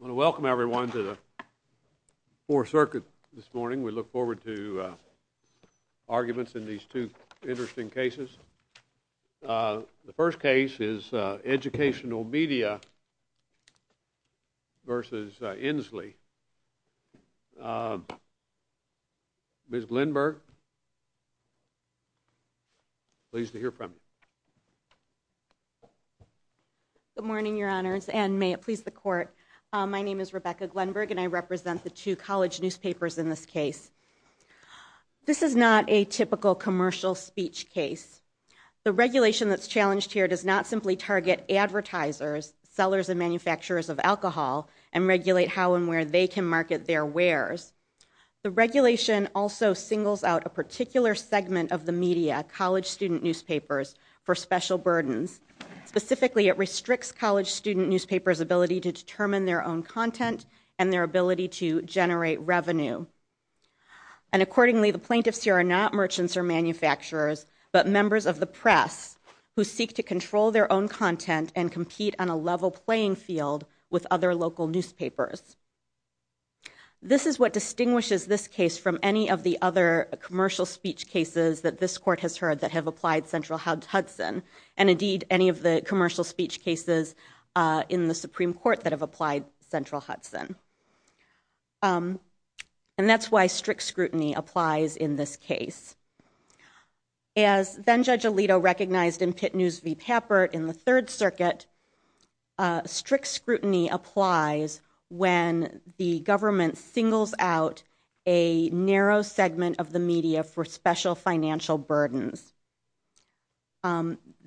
I want to welcome everyone to the 4th Circuit this morning. We look forward to arguments in these two interesting cases. The first case is Educational Media v. Insley. Ms. Lindberg, pleased to hear from you. Good morning, Your Honors, and may it please the Court. My name is Rebecca Glenberg, and I represent the two college newspapers in this case. This is not a typical commercial speech case. The regulation that's challenged here does not simply target advertisers, sellers and manufacturers of alcohol, and regulate how and where they can market their wares. The regulation also singles out a particular segment of the media, college student newspapers, for special burdens. Specifically, it restricts college student newspapers' ability to determine their own content and their ability to generate revenue. And accordingly, the plaintiffs here are not merchants or manufacturers, but members of the press who seek to control their own content and compete on a level playing field with other local newspapers. This is what distinguishes this case from any of the other commercial speech cases that this Court has heard that have applied Central Hudson, and indeed any of the commercial speech cases in the Supreme Court that have applied Central Hudson. And that's why strict scrutiny applies in this case. As then-Judge Alito recognized in Pitt News v. Papert in the 3rd Circuit, strict scrutiny applies when the government singles out a narrow segment of the media for special financial burdens.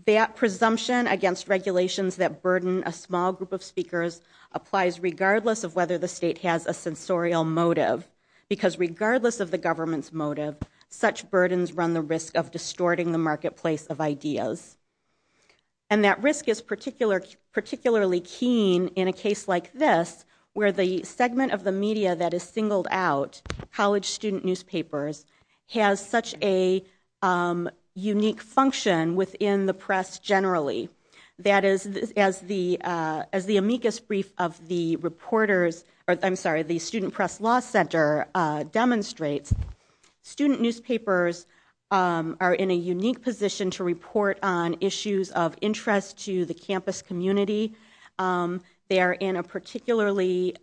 That presumption against regulations that burden a small group of speakers applies regardless of whether the state has a censorial motive, because regardless of the government's motive, such burdens run the risk of distorting the marketplace of ideas. And that risk is particularly keen in a case like this, where the segment of the media that is singled out, college student newspapers, has such a unique function within the press generally. That is, as the amicus brief of the Student Press Law Center demonstrates, student newspapers are in a unique position to report on issues of interest to the campus community. They are in a particularly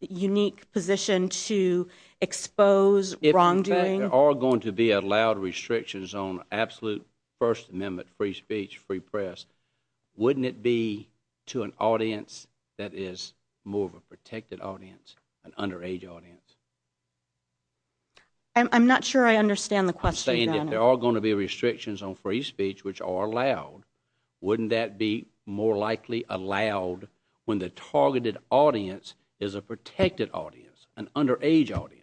unique position to expose wrongdoing. If in fact there are going to be allowed restrictions on absolute First Amendment free speech, free press, wouldn't it be to an audience that is more of a protected audience, an underage audience? I'm not sure I understand the question, Your Honor. I'm saying if there are going to be restrictions on free speech which are allowed, wouldn't that be more likely allowed when the targeted audience is a protected audience, an underage audience?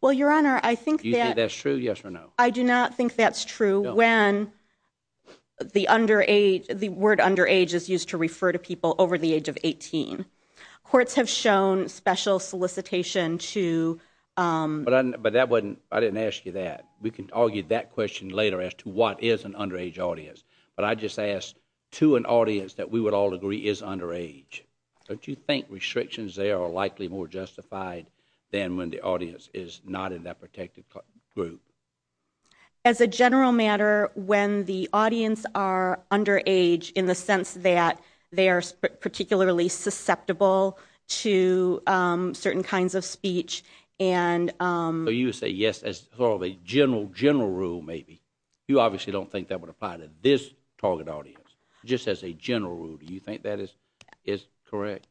Well, Your Honor, I think that... Do you think that's true, yes or no? I do not think that's true when the word underage is used to refer to people over the age of 18. Courts have shown special solicitation to... But I didn't ask you that. We can argue that question later as to what is an underage audience. But I just asked, to an audience that we would all agree is underage, don't you think restrictions there are likely more justified than when the audience is not in that protected group? As a general matter, when the audience are underage in the sense that they are particularly susceptible to certain kinds of speech and... So you would say yes as sort of a general rule maybe. You obviously don't think that would apply to this target audience. Just as a general rule, do you think that is correct?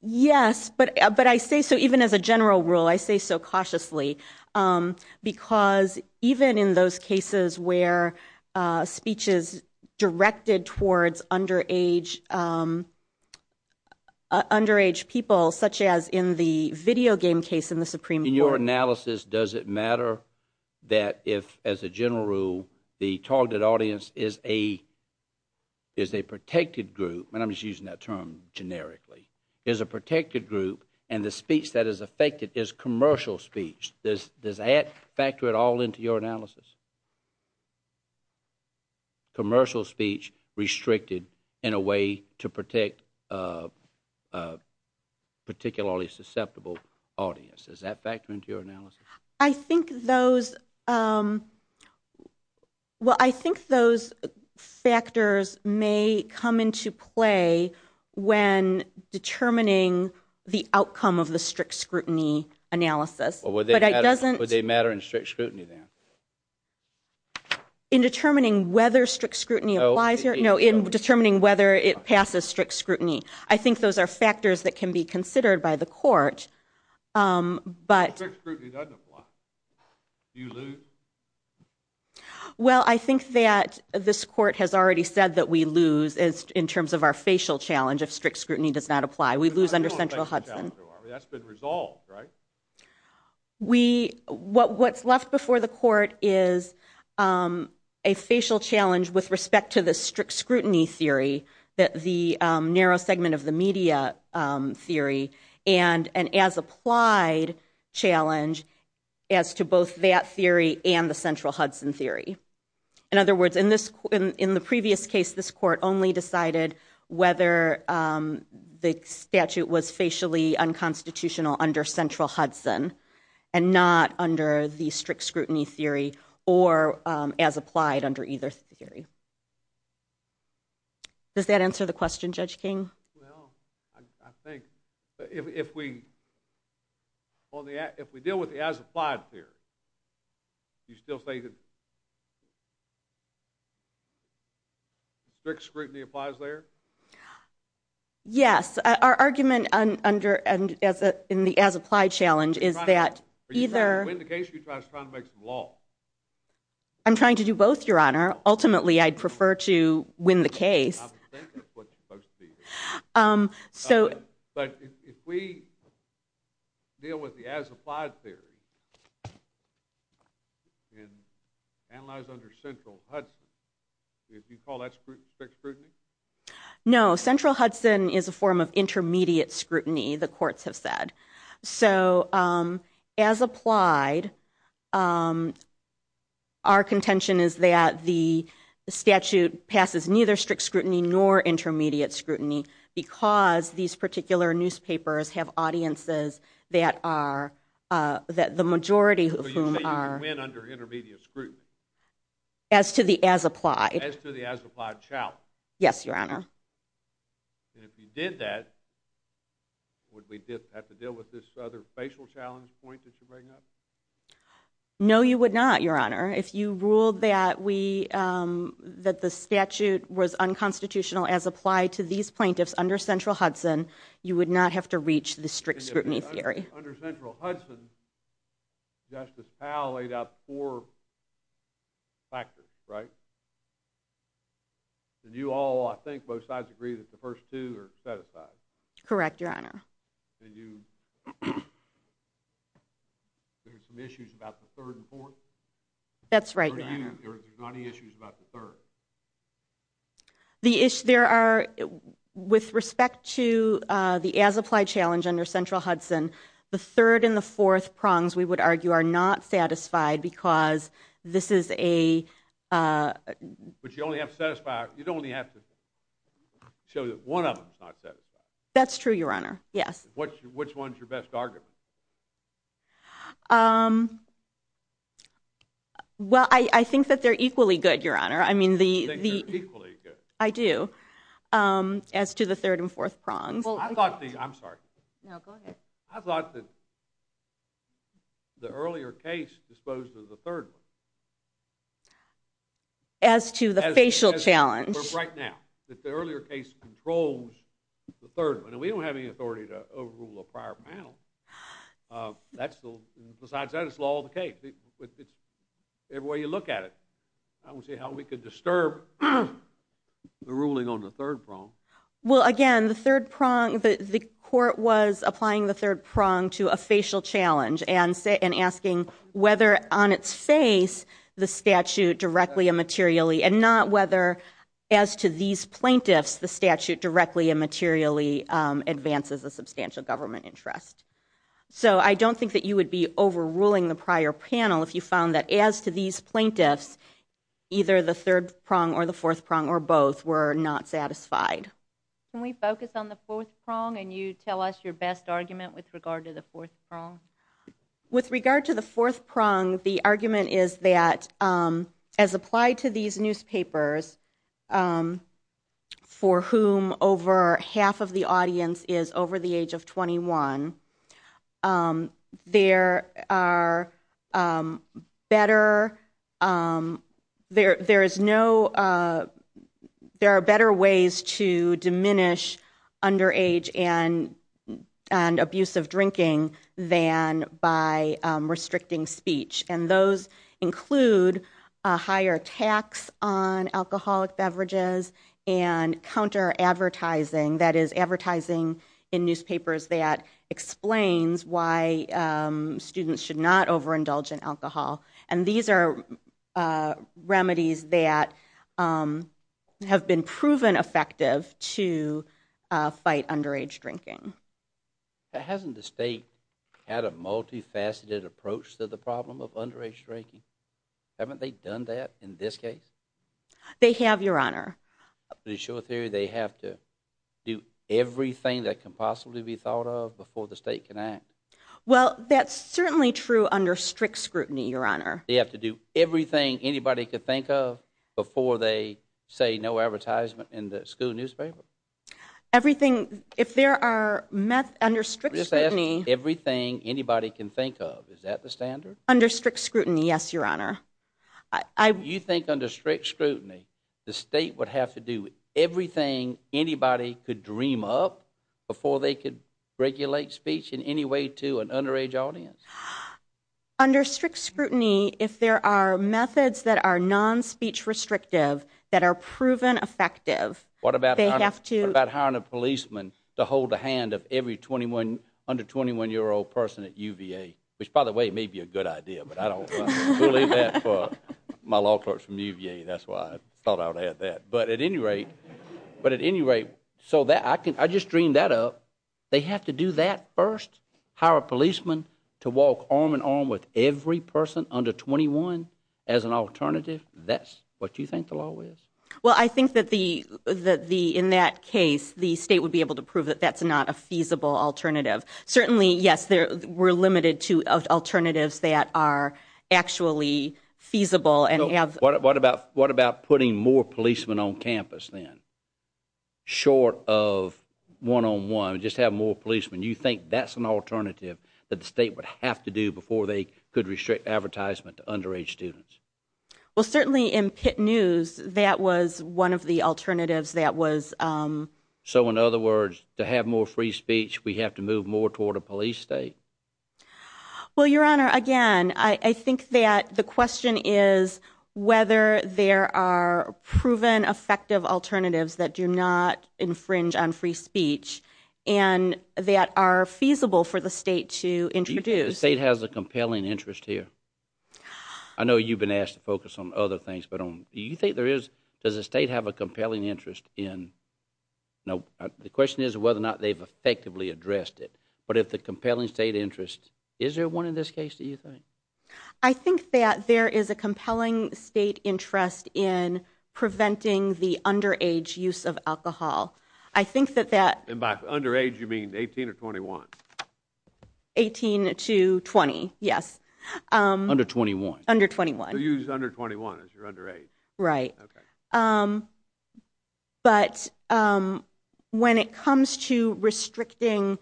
Yes, but I say so even as a general rule, I say so cautiously because even in those cases where speech is directed towards underage people, such as in the video game case in the Supreme Court... In your analysis, does it matter that if, as a general rule, the target audience is a protected group, and I'm just using that term generically, is a protected group and the speech that is affected is commercial speech. Does that factor at all into your analysis? Commercial speech restricted in a way to protect a particularly susceptible audience. Does that factor into your analysis? I think those factors may come into play when determining the outcome of the strict scrutiny analysis. Would they matter in strict scrutiny then? In determining whether strict scrutiny applies here? No, in determining whether it passes strict scrutiny. I think those are factors that can be considered by the court, but... Do you lose? Well, I think that this court has already said that we lose in terms of our facial challenge if strict scrutiny does not apply. We lose under central Hudson. That's been resolved, right? What's left before the court is a facial challenge with respect to the strict scrutiny theory, the narrow segment of the media theory, and an as-applied challenge as to both that theory and the central Hudson theory. In other words, in the previous case, this court only decided whether the statute was facially unconstitutional under central Hudson and not under the strict scrutiny theory or as applied under either theory. Does that answer the question, Judge King? Well, I think if we deal with the as-applied theory, you still say that strict scrutiny applies there? Yes. Our argument in the as-applied challenge is that either... Are you trying to win the case or are you just trying to make some law? I'm trying to do both, Your Honor. Ultimately, I'd prefer to win the case. I would think that's what you're supposed to be doing. But if we deal with the as-applied theory and analyze under central Hudson, would you call that strict scrutiny? No. Central Hudson is a form of intermediate scrutiny, the courts have said. So, as applied, our contention is that the statute passes neither strict scrutiny nor intermediate scrutiny because these particular newspapers have audiences that the majority of whom are... So you say you can win under intermediate scrutiny? As to the as-applied... As to the as-applied challenge? Yes, Your Honor. And if you did that, would we have to deal with this other facial challenge point that you bring up? No, you would not, Your Honor. If you ruled that the statute was unconstitutional as applied to these plaintiffs under central Hudson, you would not have to reach the strict scrutiny theory. Under central Hudson, Justice Powell laid out four factors, right? And you all, I think, both sides agree that the first two are satisfied? Correct, Your Honor. And you... There are some issues about the third and fourth? That's right, Your Honor. Are there any issues about the third? The issue... there are... with respect to the as-applied challenge under central Hudson, the third and the fourth prongs, we would argue, are not satisfied because this is a... But you only have to satisfy... you'd only have to show that one of them's not satisfied. That's true, Your Honor, yes. Which one's your best argument? Well, I think that they're equally good, Your Honor. I mean, the... You think they're equally good? I do, as to the third and fourth prongs. Well, I thought the... I'm sorry. No, go ahead. I thought that the earlier case disposed of the third one. As to the facial challenge. Right now. That the earlier case controls the third one. And we don't have any authority to overrule a prior panel. That's the... besides that, it's law of the cage. Every way you look at it. I don't see how we could disturb the ruling on the third prong. Well, again, the third prong... The court was applying the third prong to a facial challenge and asking whether, on its face, the statute directly and materially, and not whether, as to these plaintiffs, the statute directly and materially advances a substantial government interest. So I don't think that you would be overruling the prior panel if you found that, as to these plaintiffs, either the third prong or the fourth prong or both were not satisfied. Can we focus on the fourth prong and you tell us your best argument with regard to the fourth prong? With regard to the fourth prong, the argument is that, as applied to these newspapers, for whom over half of the audience is over the age of 21, there are better ways to diminish underage and abusive drinking than by restricting speech. And those include a higher tax on alcoholic beverages and counter-advertising, that is, advertising in newspapers that explains why students should not overindulge in alcohol. And these are remedies that have been proven effective to fight underage drinking. Hasn't the state had a multifaceted approach to the problem of underage drinking? They have, Your Honor. To show a theory, they have to do everything that can possibly be thought of before the state can act? Well, that's certainly true under strict scrutiny, Your Honor. They have to do everything anybody could think of before they say no advertisement in the school newspaper? Everything, if there are, under strict scrutiny... Just ask, everything anybody can think of, is that the standard? Under strict scrutiny, yes, Your Honor. You think under strict scrutiny, the state would have to do everything anybody could dream up before they could regulate speech in any way to an underage audience? Under strict scrutiny, if there are methods that are non-speech restrictive that are proven effective... What about hiring a policeman to hold the hand of every under-21-year-old person at UVA? Which, by the way, may be a good idea, but I don't believe that for my law clerks from UVA. That's why I thought I would add that. But at any rate, so I just dreamed that up. They have to do that first? Hire a policeman to walk arm-in-arm with every person under 21 as an alternative? That's what you think the law is? Well, I think that in that case, the state would be able to prove that that's not a feasible alternative. Certainly, yes, we're limited to alternatives that are actually feasible. What about putting more policemen on campus then, short of one-on-one, just have more policemen? You think that's an alternative that the state would have to do before they could restrict advertisement to underage students? Well, certainly in Pitt News, that was one of the alternatives that was... So in other words, to have more free speech, we have to move more toward a police state? Well, Your Honor, again, I think that the question is whether there are proven effective alternatives that do not infringe on free speech and that are feasible for the state to introduce. The state has a compelling interest here. I know you've been asked to focus on other things, but do you think there is? Does the state have a compelling interest in... The question is whether or not they've effectively addressed it. But if the compelling state interest... Is there one in this case, do you think? I think that there is a compelling state interest in preventing the underage use of alcohol. I think that that... And by underage, you mean 18 or 21? 18 to 20, yes. Under 21? Under 21. So you use under 21 as your underage? Right. Okay. But when it comes to restricting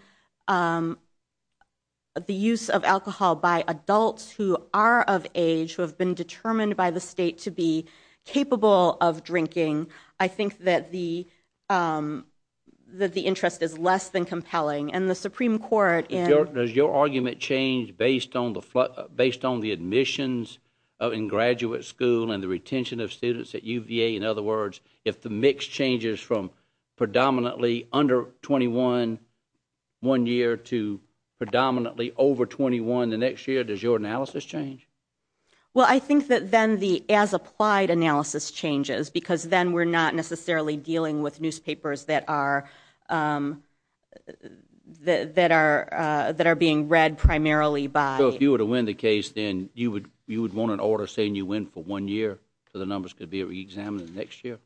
the use of alcohol by adults who are of age, who have been determined by the state to be capable of drinking, I think that the interest is less than compelling. And the Supreme Court... Does your argument change based on the admissions in graduate school and the retention of students at UVA, in other words, if the mix changes from predominantly under 21 one year to predominantly over 21 the next year, does your analysis change? Well, I think that then the as-applied analysis changes because then we're not necessarily dealing with newspapers that are being read primarily by... So if you were to win the case, then you would want an order saying you win for one year so the numbers could be reexamined the next year?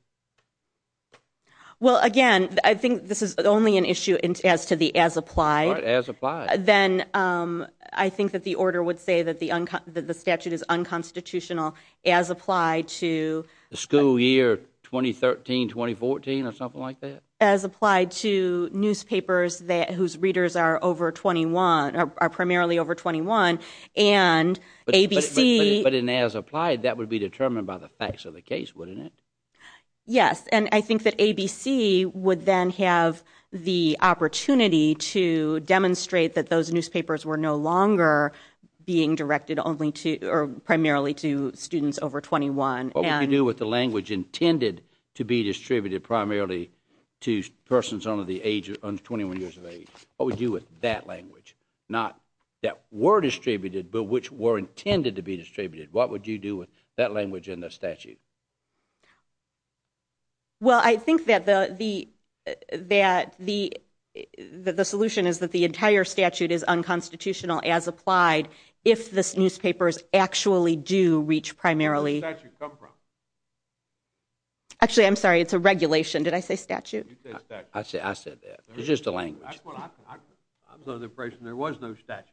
Well, again, I think this is only an issue as to the as-applied. Right, as-applied. Then I think that the order would say that the statute is unconstitutional as applied to... The school year 2013, 2014 or something like that? As applied to newspapers whose readers are primarily over 21 and ABC... But in as-applied, that would be determined by the facts of the case, wouldn't it? Yes, and I think that ABC would then have the opportunity to demonstrate that those newspapers were no longer being directed primarily to students over 21. What would you do with the language intended to be distributed primarily to persons under 21 years of age? What would you do with that language? Not that were distributed, but which were intended to be distributed. What would you do with that language in the statute? Well, I think that the solution is that the entire statute is unconstitutional as applied if the newspapers actually do reach primarily... Where did the statute come from? Actually, I'm sorry, it's a regulation. Did I say statute? You said statute. I said that. It's just a language. I'm under the impression there was no statute.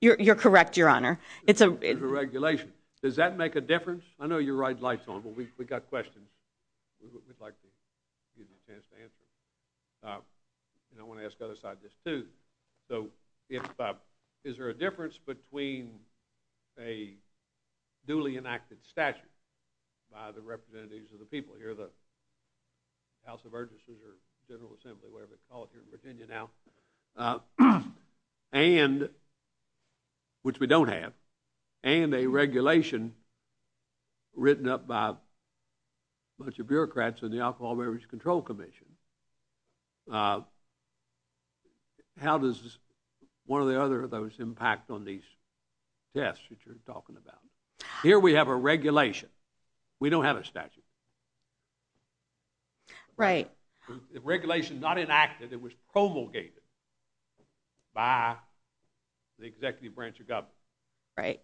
You're correct, Your Honor. It's a regulation. Does that make a difference? I know you're riding lights on, but we've got questions. We'd like to use a chance to answer. And I want to ask the other side this, too. So is there a difference between a duly enacted statute by the representatives of the people here, the House of Urgencies or General Assembly, whatever you call it here in Virginia now, and, which we don't have, and a regulation written up by a bunch of bureaucrats in the Alcohol and Beverage Control Commission? How does one or the other of those impact on these tests that you're talking about? Here we have a regulation. We don't have a statute. Right. The regulation is not enacted. It was promulgated by the executive branch of government. Right.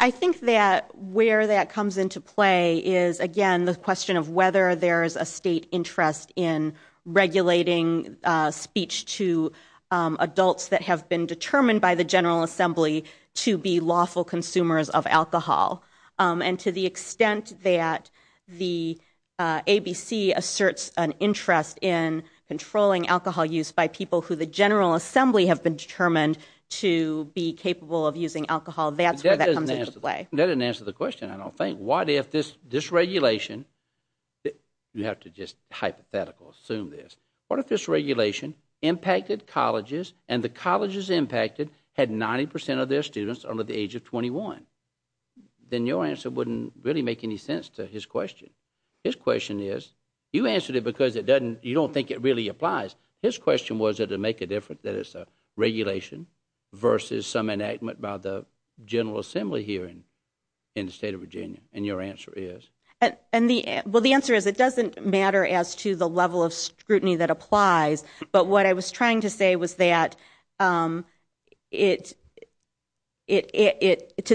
I think that where that comes into play is, again, the question of whether there is a state interest in regulating speech to adults that have been determined by the General Assembly to be lawful consumers of alcohol. And to the extent that the ABC asserts an interest in controlling alcohol use by people who the General Assembly have been determined to be capable of using alcohol, that's where that comes into play. That doesn't answer the question, I don't think. What if this regulation, you have to just hypothetically assume this, what if this regulation impacted colleges and the colleges impacted had 90% of their students under the age of 21? Then your answer wouldn't really make any sense to his question. His question is, you answered it because you don't think it really applies. His question was, did it make a difference that it's a regulation versus some enactment by the General Assembly here in the state of Virginia? And your answer is? Well, the answer is it doesn't matter as to the level of scrutiny that applies, but what I was trying to say was that to the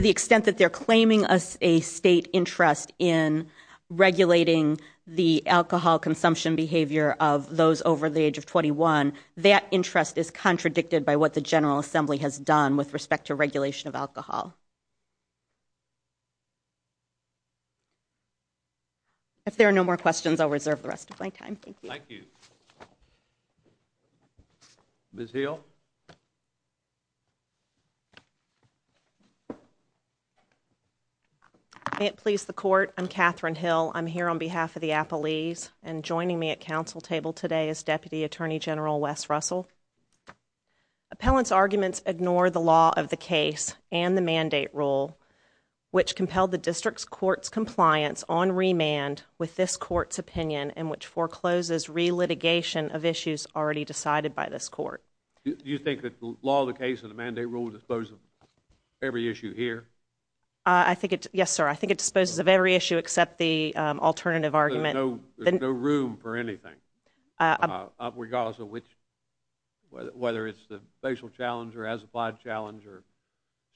extent that they're claiming a state interest in regulating the alcohol consumption behavior of those over the age of 21, that interest is contradicted by what the General Assembly has done with respect to regulation of alcohol. If there are no more questions, I'll reserve the rest of my time. Thank you. Thank you. Ms. Hill. May it please the court, I'm Catherine Hill. I'm here on behalf of the Appalese, and joining me at council table today is Deputy Attorney General Wes Russell. Appellant's arguments ignore the law of the case and the mandate rule, which compelled the district's court's compliance on remand with this court's opinion in which forecloses re-litigation of issues already decided by this court. Do you think that the law of the case and the mandate rule dispose of every issue here? Yes, sir, I think it disposes of every issue except the alternative argument. There's no room for anything, regardless of which, whether it's the facial challenge or as-applied challenge or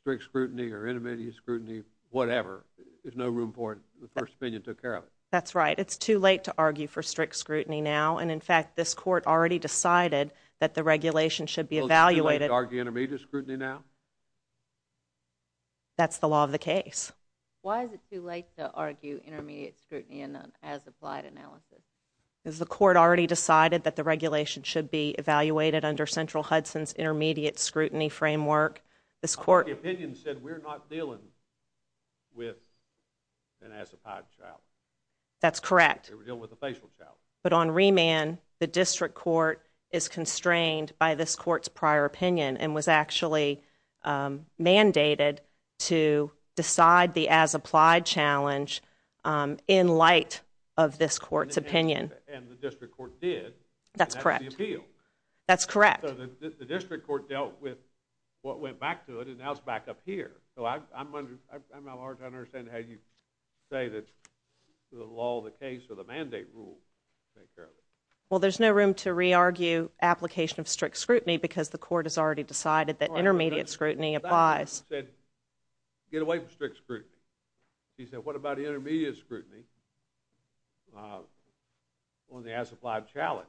strict scrutiny or intermediate scrutiny, whatever. There's no room for it. The first opinion took care of it. That's right. It's too late to argue for strict scrutiny now, and in fact, this court already decided Well, is it too late to argue intermediate scrutiny now? That's the law of the case. Why is it too late to argue intermediate scrutiny in an as-applied analysis? Because the court already decided that the regulation should be evaluated under Central Hudson's intermediate scrutiny framework. The opinion said we're not dealing with an as-applied challenge. That's correct. We're dealing with a facial challenge. But on remand, the district court is constrained by this court's prior opinion and was actually mandated to decide the as-applied challenge in light of this court's opinion. And the district court did. That's correct. And that was the appeal. That's correct. So the district court dealt with what went back to it, and now it's back up here. So I'm at large, I understand how you say that the law of the case or the mandate rule takes care of it. Well, there's no room to re-argue application of strict scrutiny because the court has already decided that intermediate scrutiny applies. I said, get away from strict scrutiny. She said, what about intermediate scrutiny on the as-applied challenge?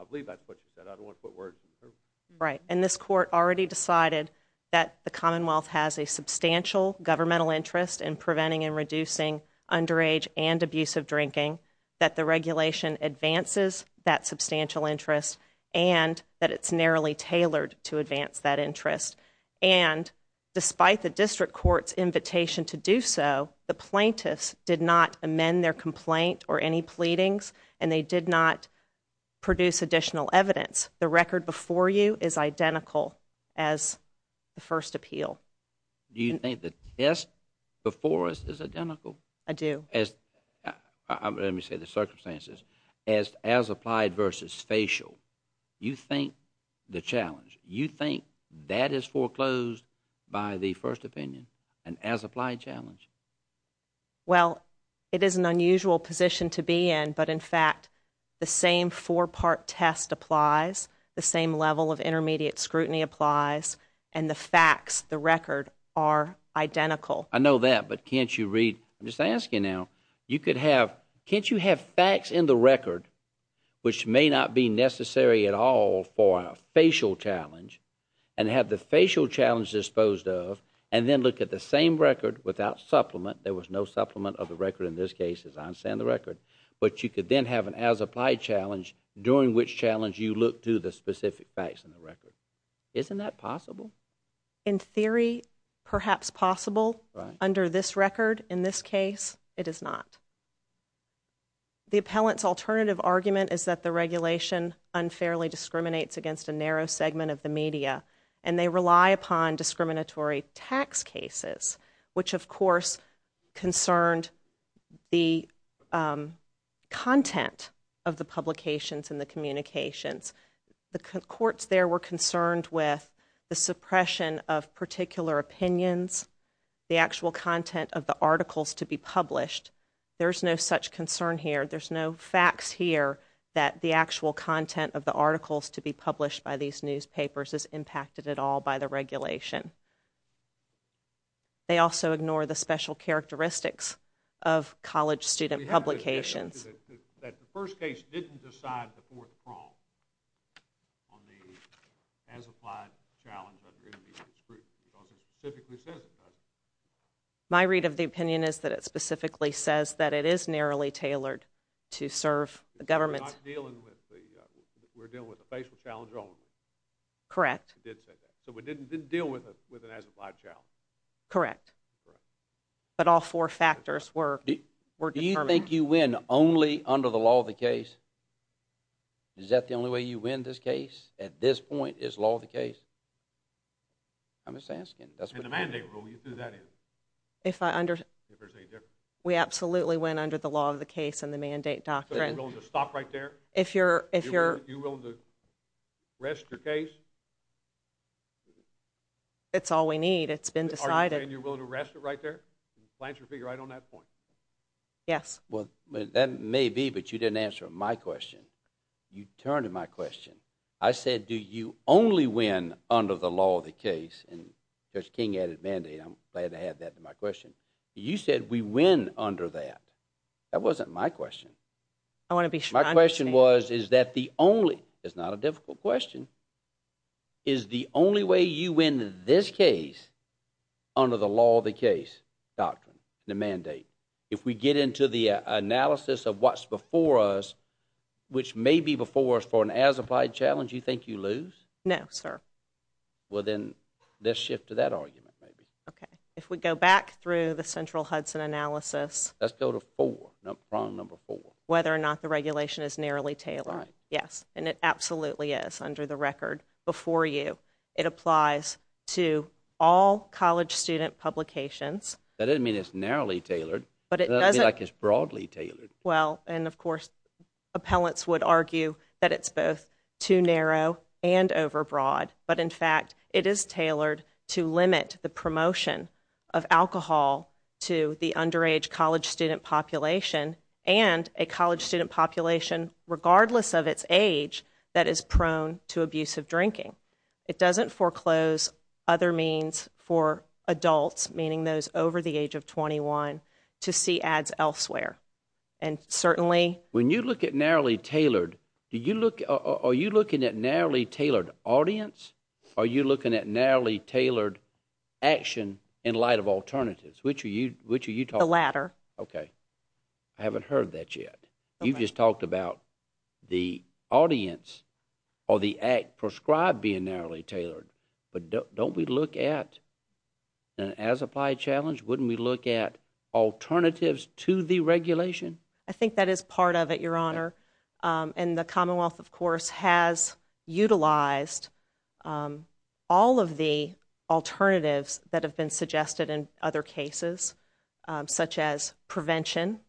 I believe that's what she said. I don't want to put words in her mouth. Right. And this court already decided that the Commonwealth has a substantial governmental interest in preventing and reducing underage and abusive drinking, that the regulation advances that substantial interest, and that it's narrowly tailored to advance that interest. And despite the district court's invitation to do so, the plaintiffs did not amend their complaint or any pleadings, and they did not produce additional evidence. The record before you is identical as the first appeal. Do you think the test before us is identical? I do. Let me say the circumstances. As applied versus facial, you think the challenge, you think that is foreclosed by the first opinion, an as-applied challenge? Well, it is an unusual position to be in, but in fact, the same four-part test applies, the same level of intermediate scrutiny applies, and the facts, the record, are identical. I know that, but can't you read? I'm just asking now. Can't you have facts in the record, which may not be necessary at all for a facial challenge, and have the facial challenge disposed of, and then look at the same record without supplement? There was no supplement of the record in this case, as I understand the record. But you could then have an as-applied challenge, during which challenge you look to the specific facts in the record. Isn't that possible? In theory, perhaps possible. Under this record, in this case, it is not. The appellant's alternative argument is that the regulation unfairly discriminates against a narrow segment of the media, and they rely upon discriminatory tax cases, which of course concerned the content of the publications and the communications. The courts there were concerned with the suppression of particular opinions, the actual content of the articles to be published. There's no such concern here. There's no facts here that the actual content of the articles to be published by these newspapers is impacted at all by the regulation. They also ignore the special characteristics of college student publications. That the first case didn't decide the fourth prong on the as-applied challenge of the intermediate scrutiny, because it specifically says it doesn't. My read of the opinion is that it specifically says that it is narrowly tailored to serve the government. We're dealing with a facial challenge only. Correct. It did say that. So it didn't deal with an as-applied challenge. Correct. But all four factors were determined. Do you think you win only under the law of the case? Is that the only way you win this case, at this point, is law of the case? I'm just asking. In the mandate rule, you threw that in. If I understand... If there's any difference. We absolutely win under the law of the case and the mandate doctrine. So you're willing to stop right there? If you're... You're willing to rest your case? It's all we need. It's been decided. Are you saying you're willing to rest it right there? You plan to figure right on that point? Yes. Well, that may be, but you didn't answer my question. You turned to my question. I said, do you only win under the law of the case? And Judge King added mandate. I'm glad to have that in my question. You said we win under that. That wasn't my question. My question was, is that the only... It's not a difficult question. Is the only way you win this case under the law of the case doctrine, the mandate? If we get into the analysis of what's before us, which may be before us for an as-applied challenge, you think you lose? No, sir. Well, then, let's shift to that argument, maybe. Okay. If we go back through the central Hudson analysis... Let's go to four, prong number four. ...whether or not the regulation is narrowly tailored. Right. Yes, and it absolutely is under the record before you. It applies to all college student publications. That doesn't mean it's narrowly tailored. But it doesn't... It doesn't look like it's broadly tailored. Well, and, of course, appellants would argue that it's both too narrow and overbroad. But, in fact, it is tailored to limit the promotion of alcohol to the underage college student population and a college student population, regardless of its age, that is prone to abusive drinking. It doesn't foreclose other means for adults, meaning those over the age of 21, to see ads elsewhere. And certainly... When you look at narrowly tailored, are you looking at narrowly tailored audience or are you looking at narrowly tailored action in light of alternatives? Which are you talking about? The latter. Okay. I haven't heard that yet. Okay. You just talked about the audience or the act prescribed being narrowly tailored. But don't we look at, as applied challenge, wouldn't we look at alternatives to the regulation? I think that is part of it, Your Honor. And the Commonwealth, of course, has utilized all of the alternatives that have been suggested in other cases, such as prevention,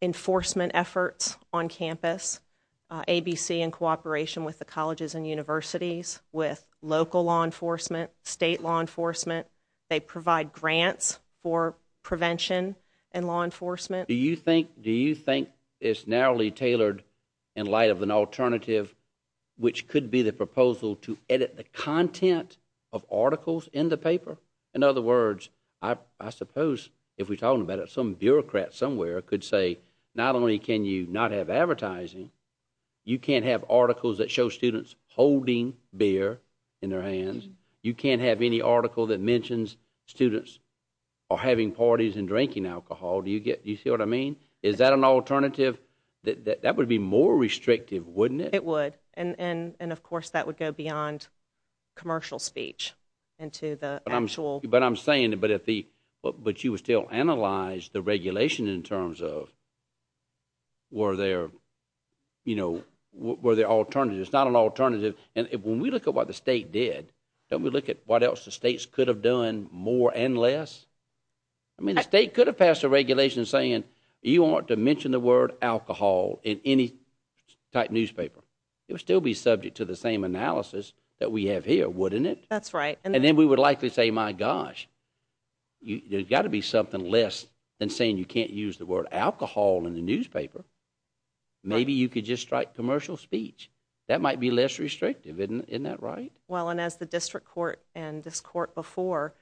enforcement efforts on campus, ABC in cooperation with the colleges and universities, with local law enforcement, state law enforcement. They provide grants for prevention and law enforcement. Do you think it's narrowly tailored in light of an alternative which could be the proposal to edit the content of articles in the paper? In other words, I suppose, if we're talking about it, some bureaucrat somewhere could say, not only can you not have advertising, you can't have articles that show students holding beer in their hands. You can't have any article that mentions students are having parties and drinking alcohol. Do you see what I mean? Is that an alternative? That would be more restrictive, wouldn't it? It would. And, of course, that would go beyond commercial speech into the actual... But I'm saying, but you would still analyze the regulation in terms of were there alternatives. It's not an alternative. And when we look at what the state did, don't we look at what else the states could have done more and less? I mean, the state could have passed a regulation saying you aren't to mention the word alcohol in any type newspaper. It would still be subject to the same analysis that we have here, wouldn't it? That's right. And then we would likely say, my gosh, there's got to be something less than saying you can't use the word alcohol in the newspaper. Maybe you could just strike commercial speech. That might be less restrictive, isn't that right? Well, and as the district court and this court before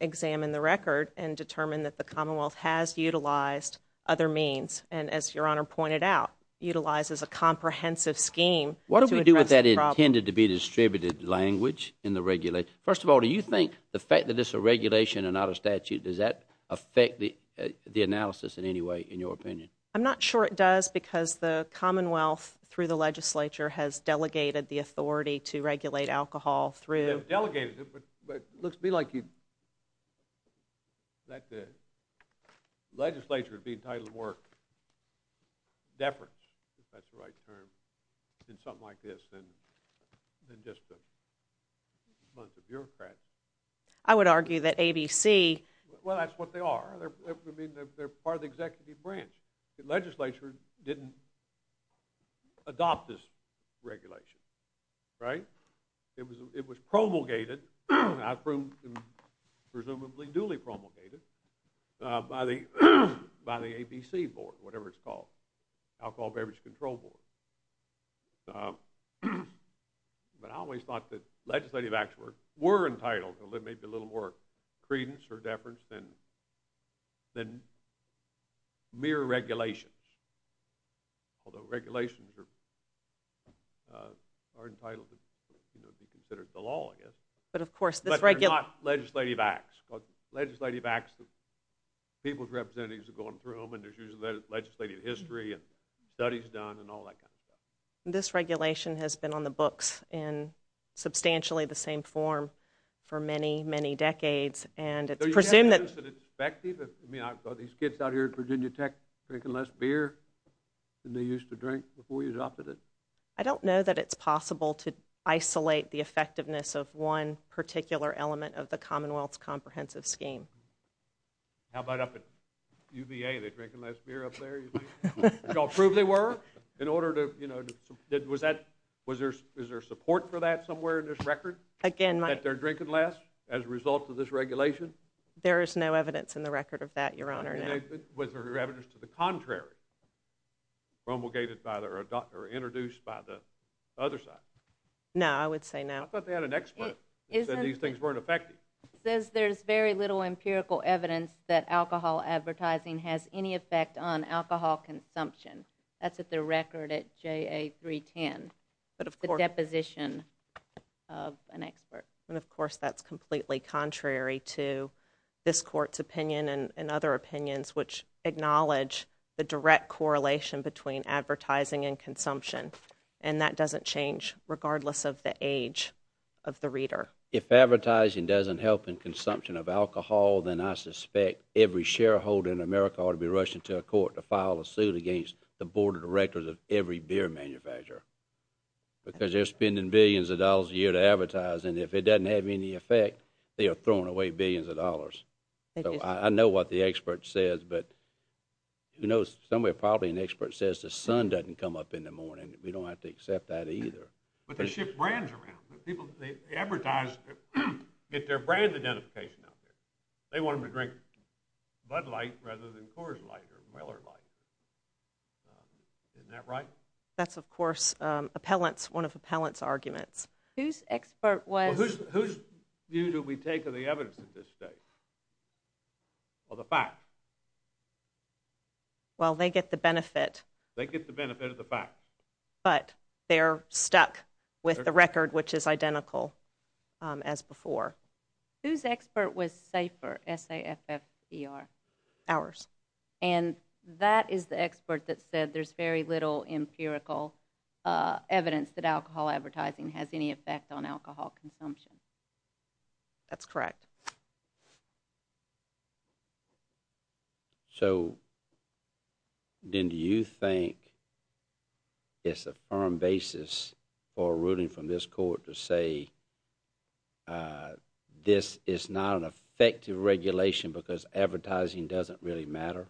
examined the record and determined that the Commonwealth has utilized other means, and as Your Honor pointed out, utilizes a comprehensive scheme to address the problem. What do we do with that intended-to-be-distributed language in the regulation? First of all, do you think the fact that this is a regulation and not a statute, does that affect the analysis in any way, in your opinion? I'm not sure it does, because the Commonwealth, through the legislature, has delegated the authority to regulate alcohol through... They've delegated it, but let's be like you... that the legislature would be entitled to work deference, if that's the right term, in something like this than just amongst the bureaucrats. I would argue that ABC... Well, that's what they are. They're part of the executive branch. The legislature didn't adopt this regulation, right? It was promulgated, presumably duly promulgated, by the ABC board, whatever it's called, Alcohol Beverage Control Board. But I always thought that legislative acts were entitled to maybe a little more credence or deference than mere regulations, although regulations are entitled to be considered the law, I guess. But of course... But they're not legislative acts. Legislative acts, people's representatives are going through them, and there's usually a legislative history and studies done and all that kind of stuff. This regulation has been on the books in substantially the same form for many, many decades, and it's presumed that... Are these kids out here at Virginia Tech drinking less beer than they used to drink before you adopted it? I don't know that it's possible to isolate the effectiveness of one particular element of the Commonwealth's comprehensive scheme. How about up at UVA? Are they drinking less beer up there? Did y'all prove they were? Was there support for that somewhere in this record? Again, my... That they're drinking less as a result of this regulation? There is no evidence in the record of that, Your Honor. Was there evidence to the contrary, promulgated or introduced by the other side? No, I would say no. I thought they had an expert that said these things weren't effective. It says there's very little empirical evidence that alcohol advertising has any effect on alcohol consumption. That's at the record at JA 310, the deposition of an expert. And, of course, that's completely contrary to this Court's opinion and other opinions which acknowledge the direct correlation between advertising and consumption, and that doesn't change, regardless of the age of the reader. If advertising doesn't help in consumption of alcohol, then I suspect every shareholder in America ought to be rushing to a court to file a suit against the Board of Directors of every beer manufacturer because they're spending billions of dollars a year to advertise, and if it doesn't have any effect, they are throwing away billions of dollars. So I know what the expert says, but you know, somewhere probably an expert says the sun doesn't come up in the morning. We don't have to accept that either. But they ship brands around. The people they advertise get their brand identification out there. They want them to drink Bud Light rather than Coors Light or Weller Light. Isn't that right? That's, of course, appellants, one of appellants' arguments. Whose expert was... Whose view do we take of the evidence at this stage? Or the fact? Well, they get the benefit. They get the benefit of the fact. But they're stuck with the record which is identical as before. Whose expert was safer, S-A-F-F-E-R? Ours. And that is the expert that said there's very little empirical evidence that alcohol advertising has any effect on alcohol consumption. That's correct. So then do you think it's a firm basis for a ruling from this court to say this is not an effective regulation because advertising doesn't really matter?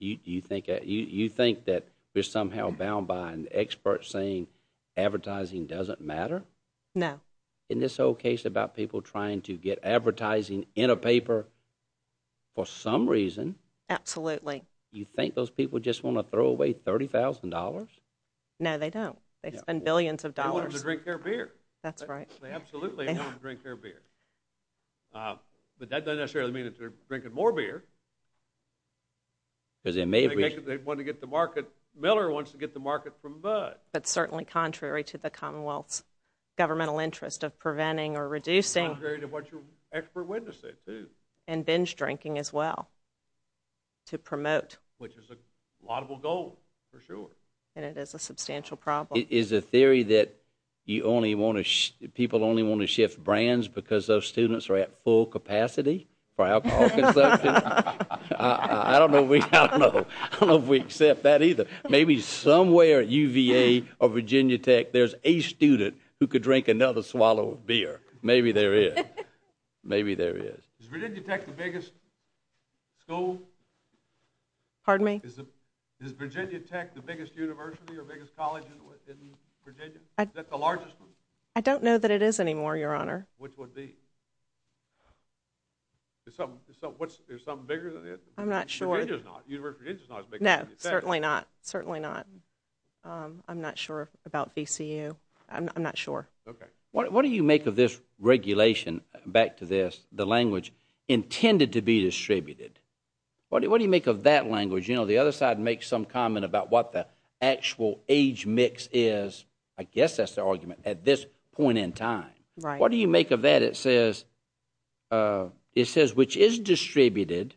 You think that we're somehow bound by an expert saying advertising doesn't matter? No. In this whole case about people trying to get advertising in a paper, for some reason... Absolutely. You think those people just want to throw away $30,000? No, they don't. They spend billions of dollars. They want them to drink their beer. That's right. They absolutely want them to drink their beer. But that doesn't necessarily mean they're drinking more beer. Because it may be... They want to get the market... Miller wants to get the market from Bud. That's certainly contrary to the Commonwealth's governmental interest of preventing or reducing... Contrary to what your expert witness said, too. And binge drinking as well. To promote. Which is a laudable goal, for sure. And it is a substantial problem. Is the theory that people only want to shift brands because those students are at full capacity for alcohol consumption? I don't know if we accept that either. Maybe somewhere at UVA or Virginia Tech there's a student who could drink another swallow of beer. Maybe there is. Maybe there is. Is Virginia Tech the biggest school? Pardon me? Is Virginia Tech the biggest university or biggest college in Virginia? Is that the largest one? I don't know that it is anymore, Your Honor. Which would be? Is something bigger than it? I'm not sure. Virginia's not. University of Virginia's not as big as Virginia Tech. No, certainly not. Certainly not. I'm not sure about VCU. I'm not sure. What do you make of this regulation, back to this, the language, intended to be distributed? What do you make of that language? The other side makes some comment about what the actual age mix is. I guess that's their argument at this point in time. What do you make of that? It says, which is distributed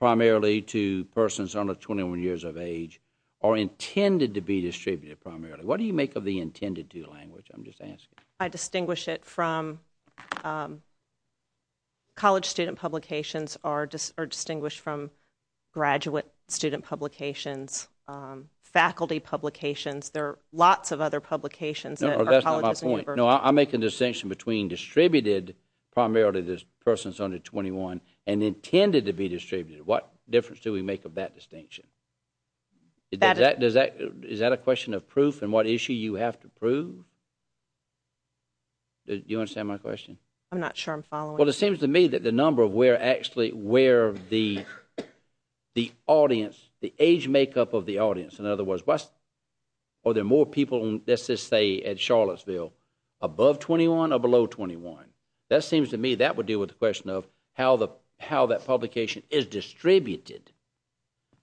primarily to persons under 21 years of age are intended to be distributed primarily. What do you make of the intended to language? I'm just asking. I distinguish it from college student publications are distinguished from graduate student publications, faculty publications. There are lots of other publications. That's not my point. I make a distinction between distributed primarily to persons under 21 and intended to be distributed. What difference do we make of that distinction? Is that a question of proof and what issue you have to prove? Do you understand my question? I'm not sure I'm following. Well, it seems to me that the number of where actually where the audience, the age makeup of the audience, in other words, are there more people, let's just say, at Charlottesville above 21 or below 21? That seems to me that would deal with the question of how that publication is distributed.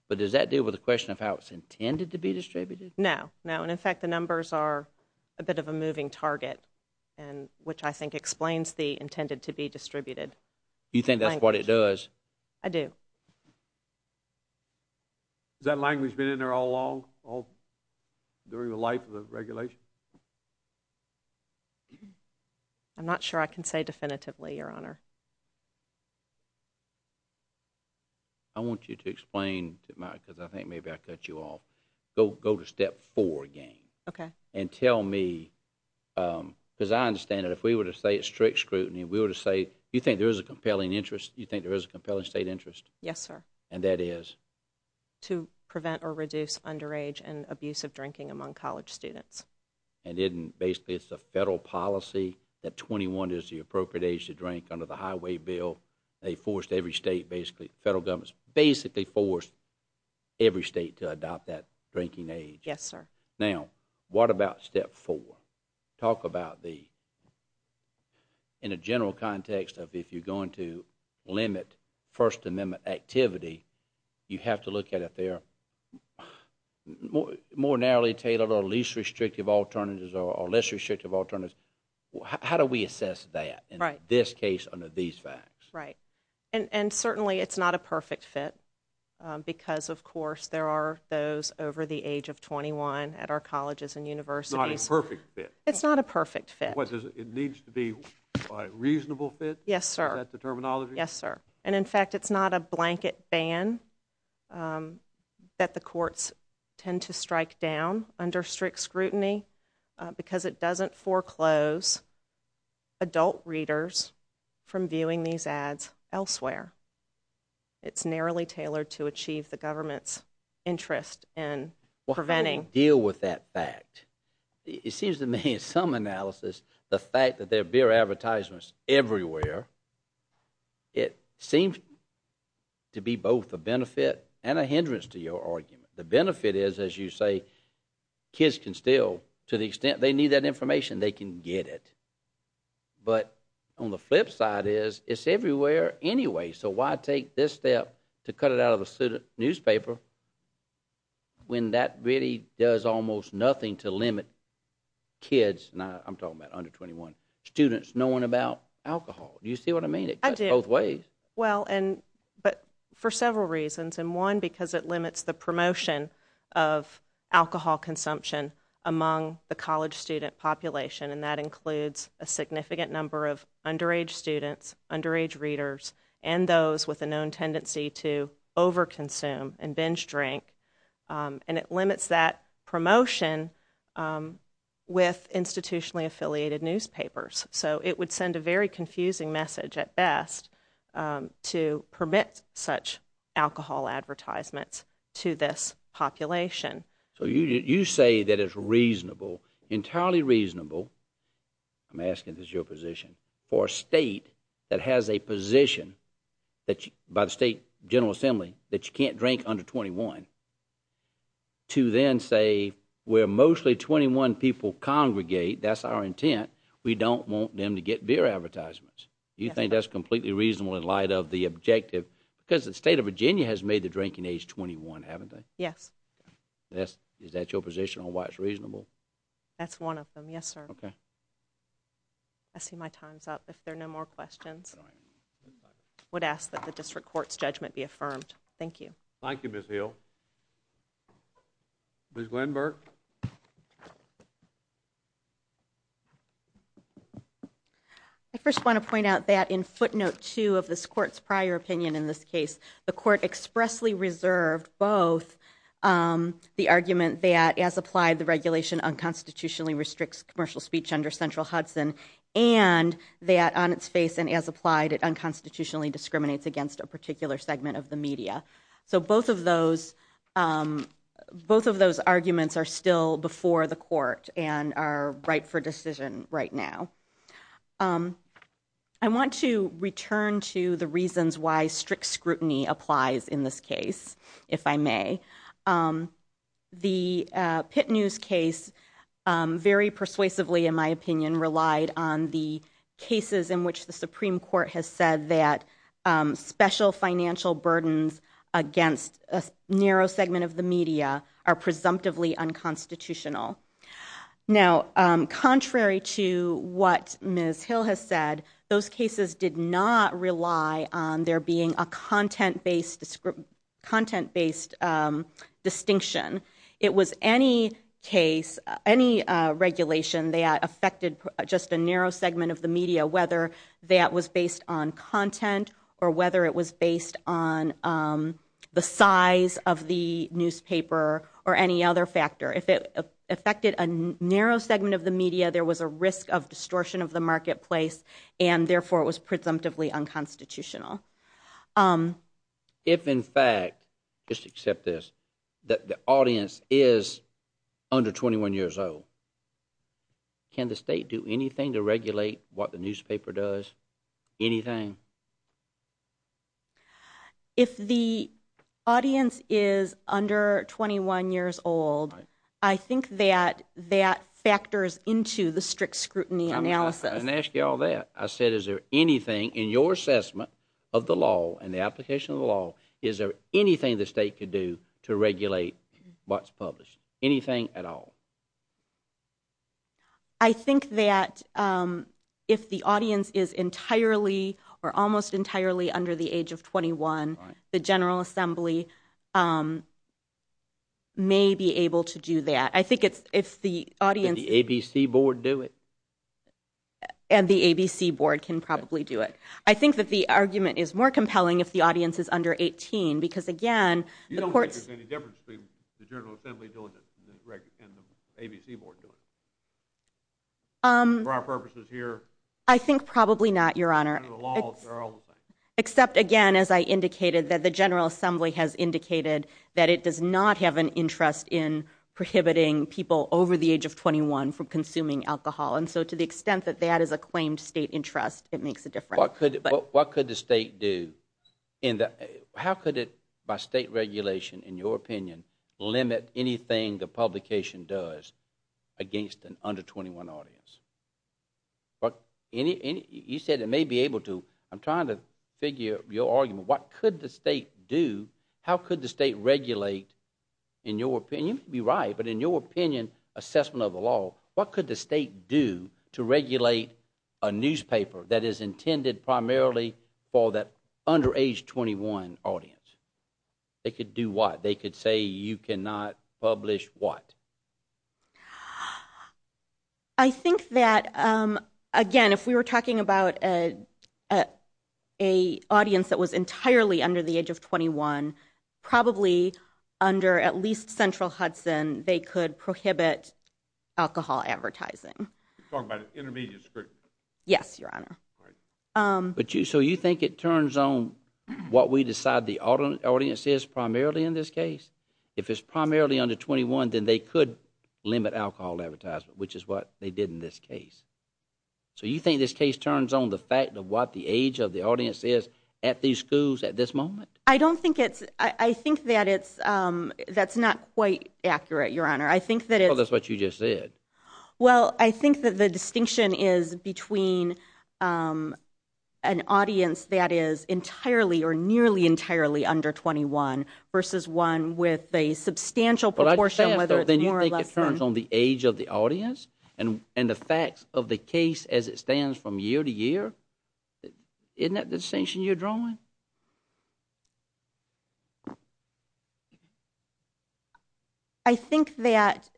But does that deal with the question of how it's intended to be distributed? No, no. And, in fact, the numbers are a bit of a moving target, which I think explains the intended to be distributed. You think that's what it does? I do. Has that language been in there all along, during the life of the regulation? I'm not sure I can say definitively, Your Honor. I want you to explain, because I think maybe I cut you off. Go to step four again. Okay. And tell me, because I understand that if we were to say it's strict scrutiny, we were to say, you think there is a compelling interest? You think there is a compelling state interest? Yes, sir. And that is? To prevent or reduce underage and abusive drinking among college students. And basically it's a federal policy that 21 is the appropriate age to drink under the highway bill. They forced every state basically, federal governments basically forced every state to adopt that drinking age. Yes, sir. Now, what about step four? Talk about the, in a general context of if you're going to limit First Amendment activity, you have to look at if they're more narrowly tailored or least restrictive alternatives or less restrictive alternatives. How do we assess that in this case under these facts? Right. And certainly it's not a perfect fit, because of course there are those over the age of 21 at our colleges and universities. It's not a perfect fit. It's not a perfect fit. It needs to be a reasonable fit? Yes, sir. Is that the terminology? Yes, sir. And in fact, it's not a blanket ban that the courts tend to strike down under strict scrutiny, because it doesn't foreclose adult readers from viewing these ads elsewhere. It's narrowly tailored to achieve the government's interest in preventing. Well, how do you deal with that fact? It seems to me in some analysis the fact that there are beer advertisements everywhere, it seems to be both a benefit and a hindrance to your argument. The benefit is, as you say, kids can still, to the extent they need that information, they can get it. But on the flip side is it's everywhere anyway, so why take this step to cut it out of a student newspaper when that really does almost nothing to limit kids, and I'm talking about under 21, students knowing about alcohol? Do you see what I mean? I do. It cuts both ways. Well, but for several reasons, and one, because it limits the promotion of alcohol consumption among the college student population, and that includes a significant number of underage students, underage readers, and those with a known tendency to overconsume and binge drink, and it limits that promotion with institutionally affiliated newspapers. So it would send a very confusing message at best to permit such alcohol advertisements to this population. So you say that it's reasonable, entirely reasonable, I'm asking this as your position, for a state that has a position by the state general assembly that you can't drink under 21, to then say where mostly 21 people congregate, that's our intent, we don't want them to get beer advertisements. Do you think that's completely reasonable in light of the objective? Because the state of Virginia has made the drinking age 21, haven't they? Yes. Is that your position on why it's reasonable? That's one of them, yes, sir. Okay. I see my time's up. If there are no more questions, I would ask that the district court's judgment be affirmed. Thank you. Thank you, Ms. Hill. Ms. Glenberg? I first want to point out that in footnote 2 of this court's prior opinion in this case, the court expressly reserved both the argument that as applied, the regulation unconstitutionally restricts commercial speech under Central Hudson and that on its face and as applied, it unconstitutionally discriminates against a particular segment of the media. So both of those arguments are still before the court and are right for decision right now. I want to return to the reasons why strict scrutiny applies in this case, if I may. The Pitt News case very persuasively, in my opinion, relied on the cases in which the Supreme Court has said that special financial burdens against a narrow segment of the media are presumptively unconstitutional. Now, contrary to what Ms. Hill has said, those cases did not rely on there being a content-based distinction. It was any case, any regulation that affected just a narrow segment of the media, whether that was based on content or whether it was based on the size of the newspaper or any other factor. If it affected a narrow segment of the media, there was a risk of distortion of the marketplace and therefore it was presumptively unconstitutional. If, in fact, just accept this, that the audience is under 21 years old, can the state do anything to regulate what the newspaper does? Anything? If the audience is under 21 years old, I think that that factors into the strict scrutiny analysis. I didn't ask you all that. I said, is there anything in your assessment of the law and the application of the law, is there anything the state could do to regulate what's published? Anything at all? I think that if the audience is entirely or almost entirely under the age of 21, the General Assembly may be able to do that. Could the ABC board do it? And the ABC board can probably do it. I think that the argument is more compelling if the audience is under 18 because, again... You don't think there's any difference between the General Assembly doing it and the ABC board doing it? For our purposes here? I think probably not, Your Honor. Except, again, as I indicated, that the General Assembly has indicated that it does not have an interest in prohibiting people over the age of 21 from consuming alcohol, and so to the extent that that is a claimed state interest, it makes a difference. What could the state do? How could it, by state regulation, in your opinion, limit anything the publication does against an under-21 audience? You said it may be able to. I'm trying to figure your argument. What could the state do? How could the state regulate, in your opinion, you may be right, but in your opinion, assessment of the law, what could the state do to regulate a newspaper that is intended primarily for that under-age 21 audience? They could do what? They could say you cannot publish what? I think that, again, if we were talking about a audience that was entirely under the age of 21, probably under at least Central Hudson, they could prohibit alcohol advertising. You're talking about intermediate scrutiny. Yes, Your Honor. So you think it turns on what we decide the audience is primarily in this case? If it's primarily under 21, then they could limit alcohol advertisement, which is what they did in this case. So you think this case turns on the fact of what the age of the audience is at these schools at this moment? I don't think it's... I think that it's... That's not quite accurate, Your Honor. I think that it's... Well, that's what you just said. Well, I think that the distinction is between an audience that is entirely or nearly entirely under 21 versus one with a substantial proportion, whether it's more or less than... Then you think it turns on the age of the audience and the facts of the case as it stands from year to year? Isn't that the distinction you're drawing? I think that...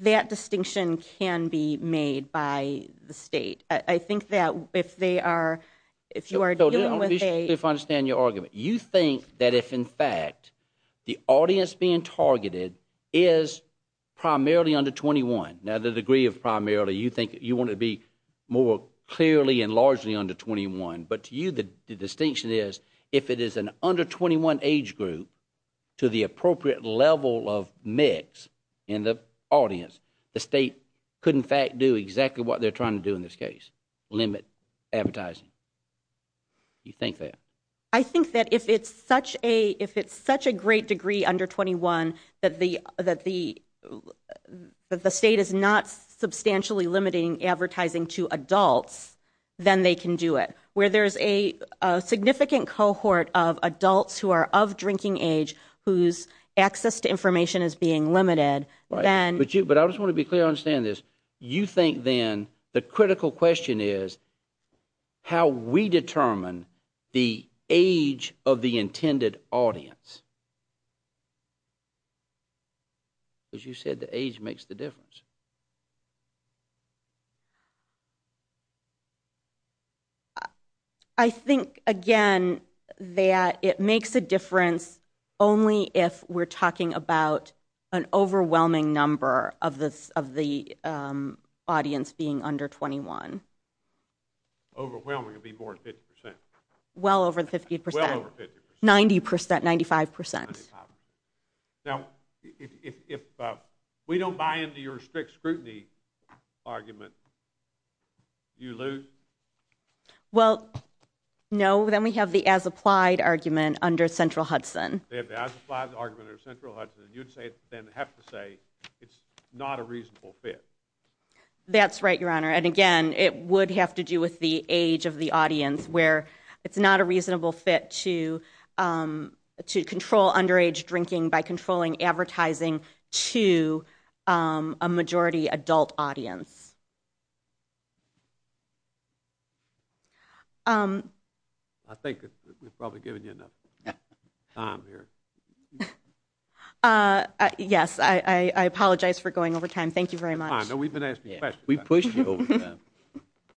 That distinction can be made by the state. I think that if they are... If you are dealing with a... I don't understand your argument. You think that if, in fact, the audience being targeted is primarily under 21. Now, the degree of primarily, you want it to be more clearly and largely under 21. But to you, the distinction is if it is an under-21 age group to the appropriate level of mix in the audience, the state could, in fact, do exactly what they're trying to do in this case, limit advertising. You think that? I think that if it's such a... If it's such a great degree under 21 that the state is not substantially limiting advertising to adults, then they can do it. Where there's a significant cohort of adults who are of drinking age whose access to information is being limited, then... But I just want to be clear on saying this. You think, then, the critical question is how we determine the age of the intended audience. Because you said the age makes the difference. I think, again, that it makes a difference only if we're talking about an overwhelming number of the audience being under 21. Overwhelming would be more than 50%. Well over 50%. Well over 50%. 90%, 95%. 95%. Now, if we don't buy into your strict scrutiny argument, do you lose? Well, no. Then we have the as-applied argument under Central Hudson. They have the as-applied argument under Central Hudson. You'd, then, have to say it's not a reasonable fit. That's right, Your Honor. Again, it would have to do with the age of the audience where it's not a reasonable fit to control underage drinking by controlling advertising to a majority adult audience. I think we've probably given you enough time here. Yes, I apologize for going over time. Thank you very much. No, we've been asking questions. We pushed you over time.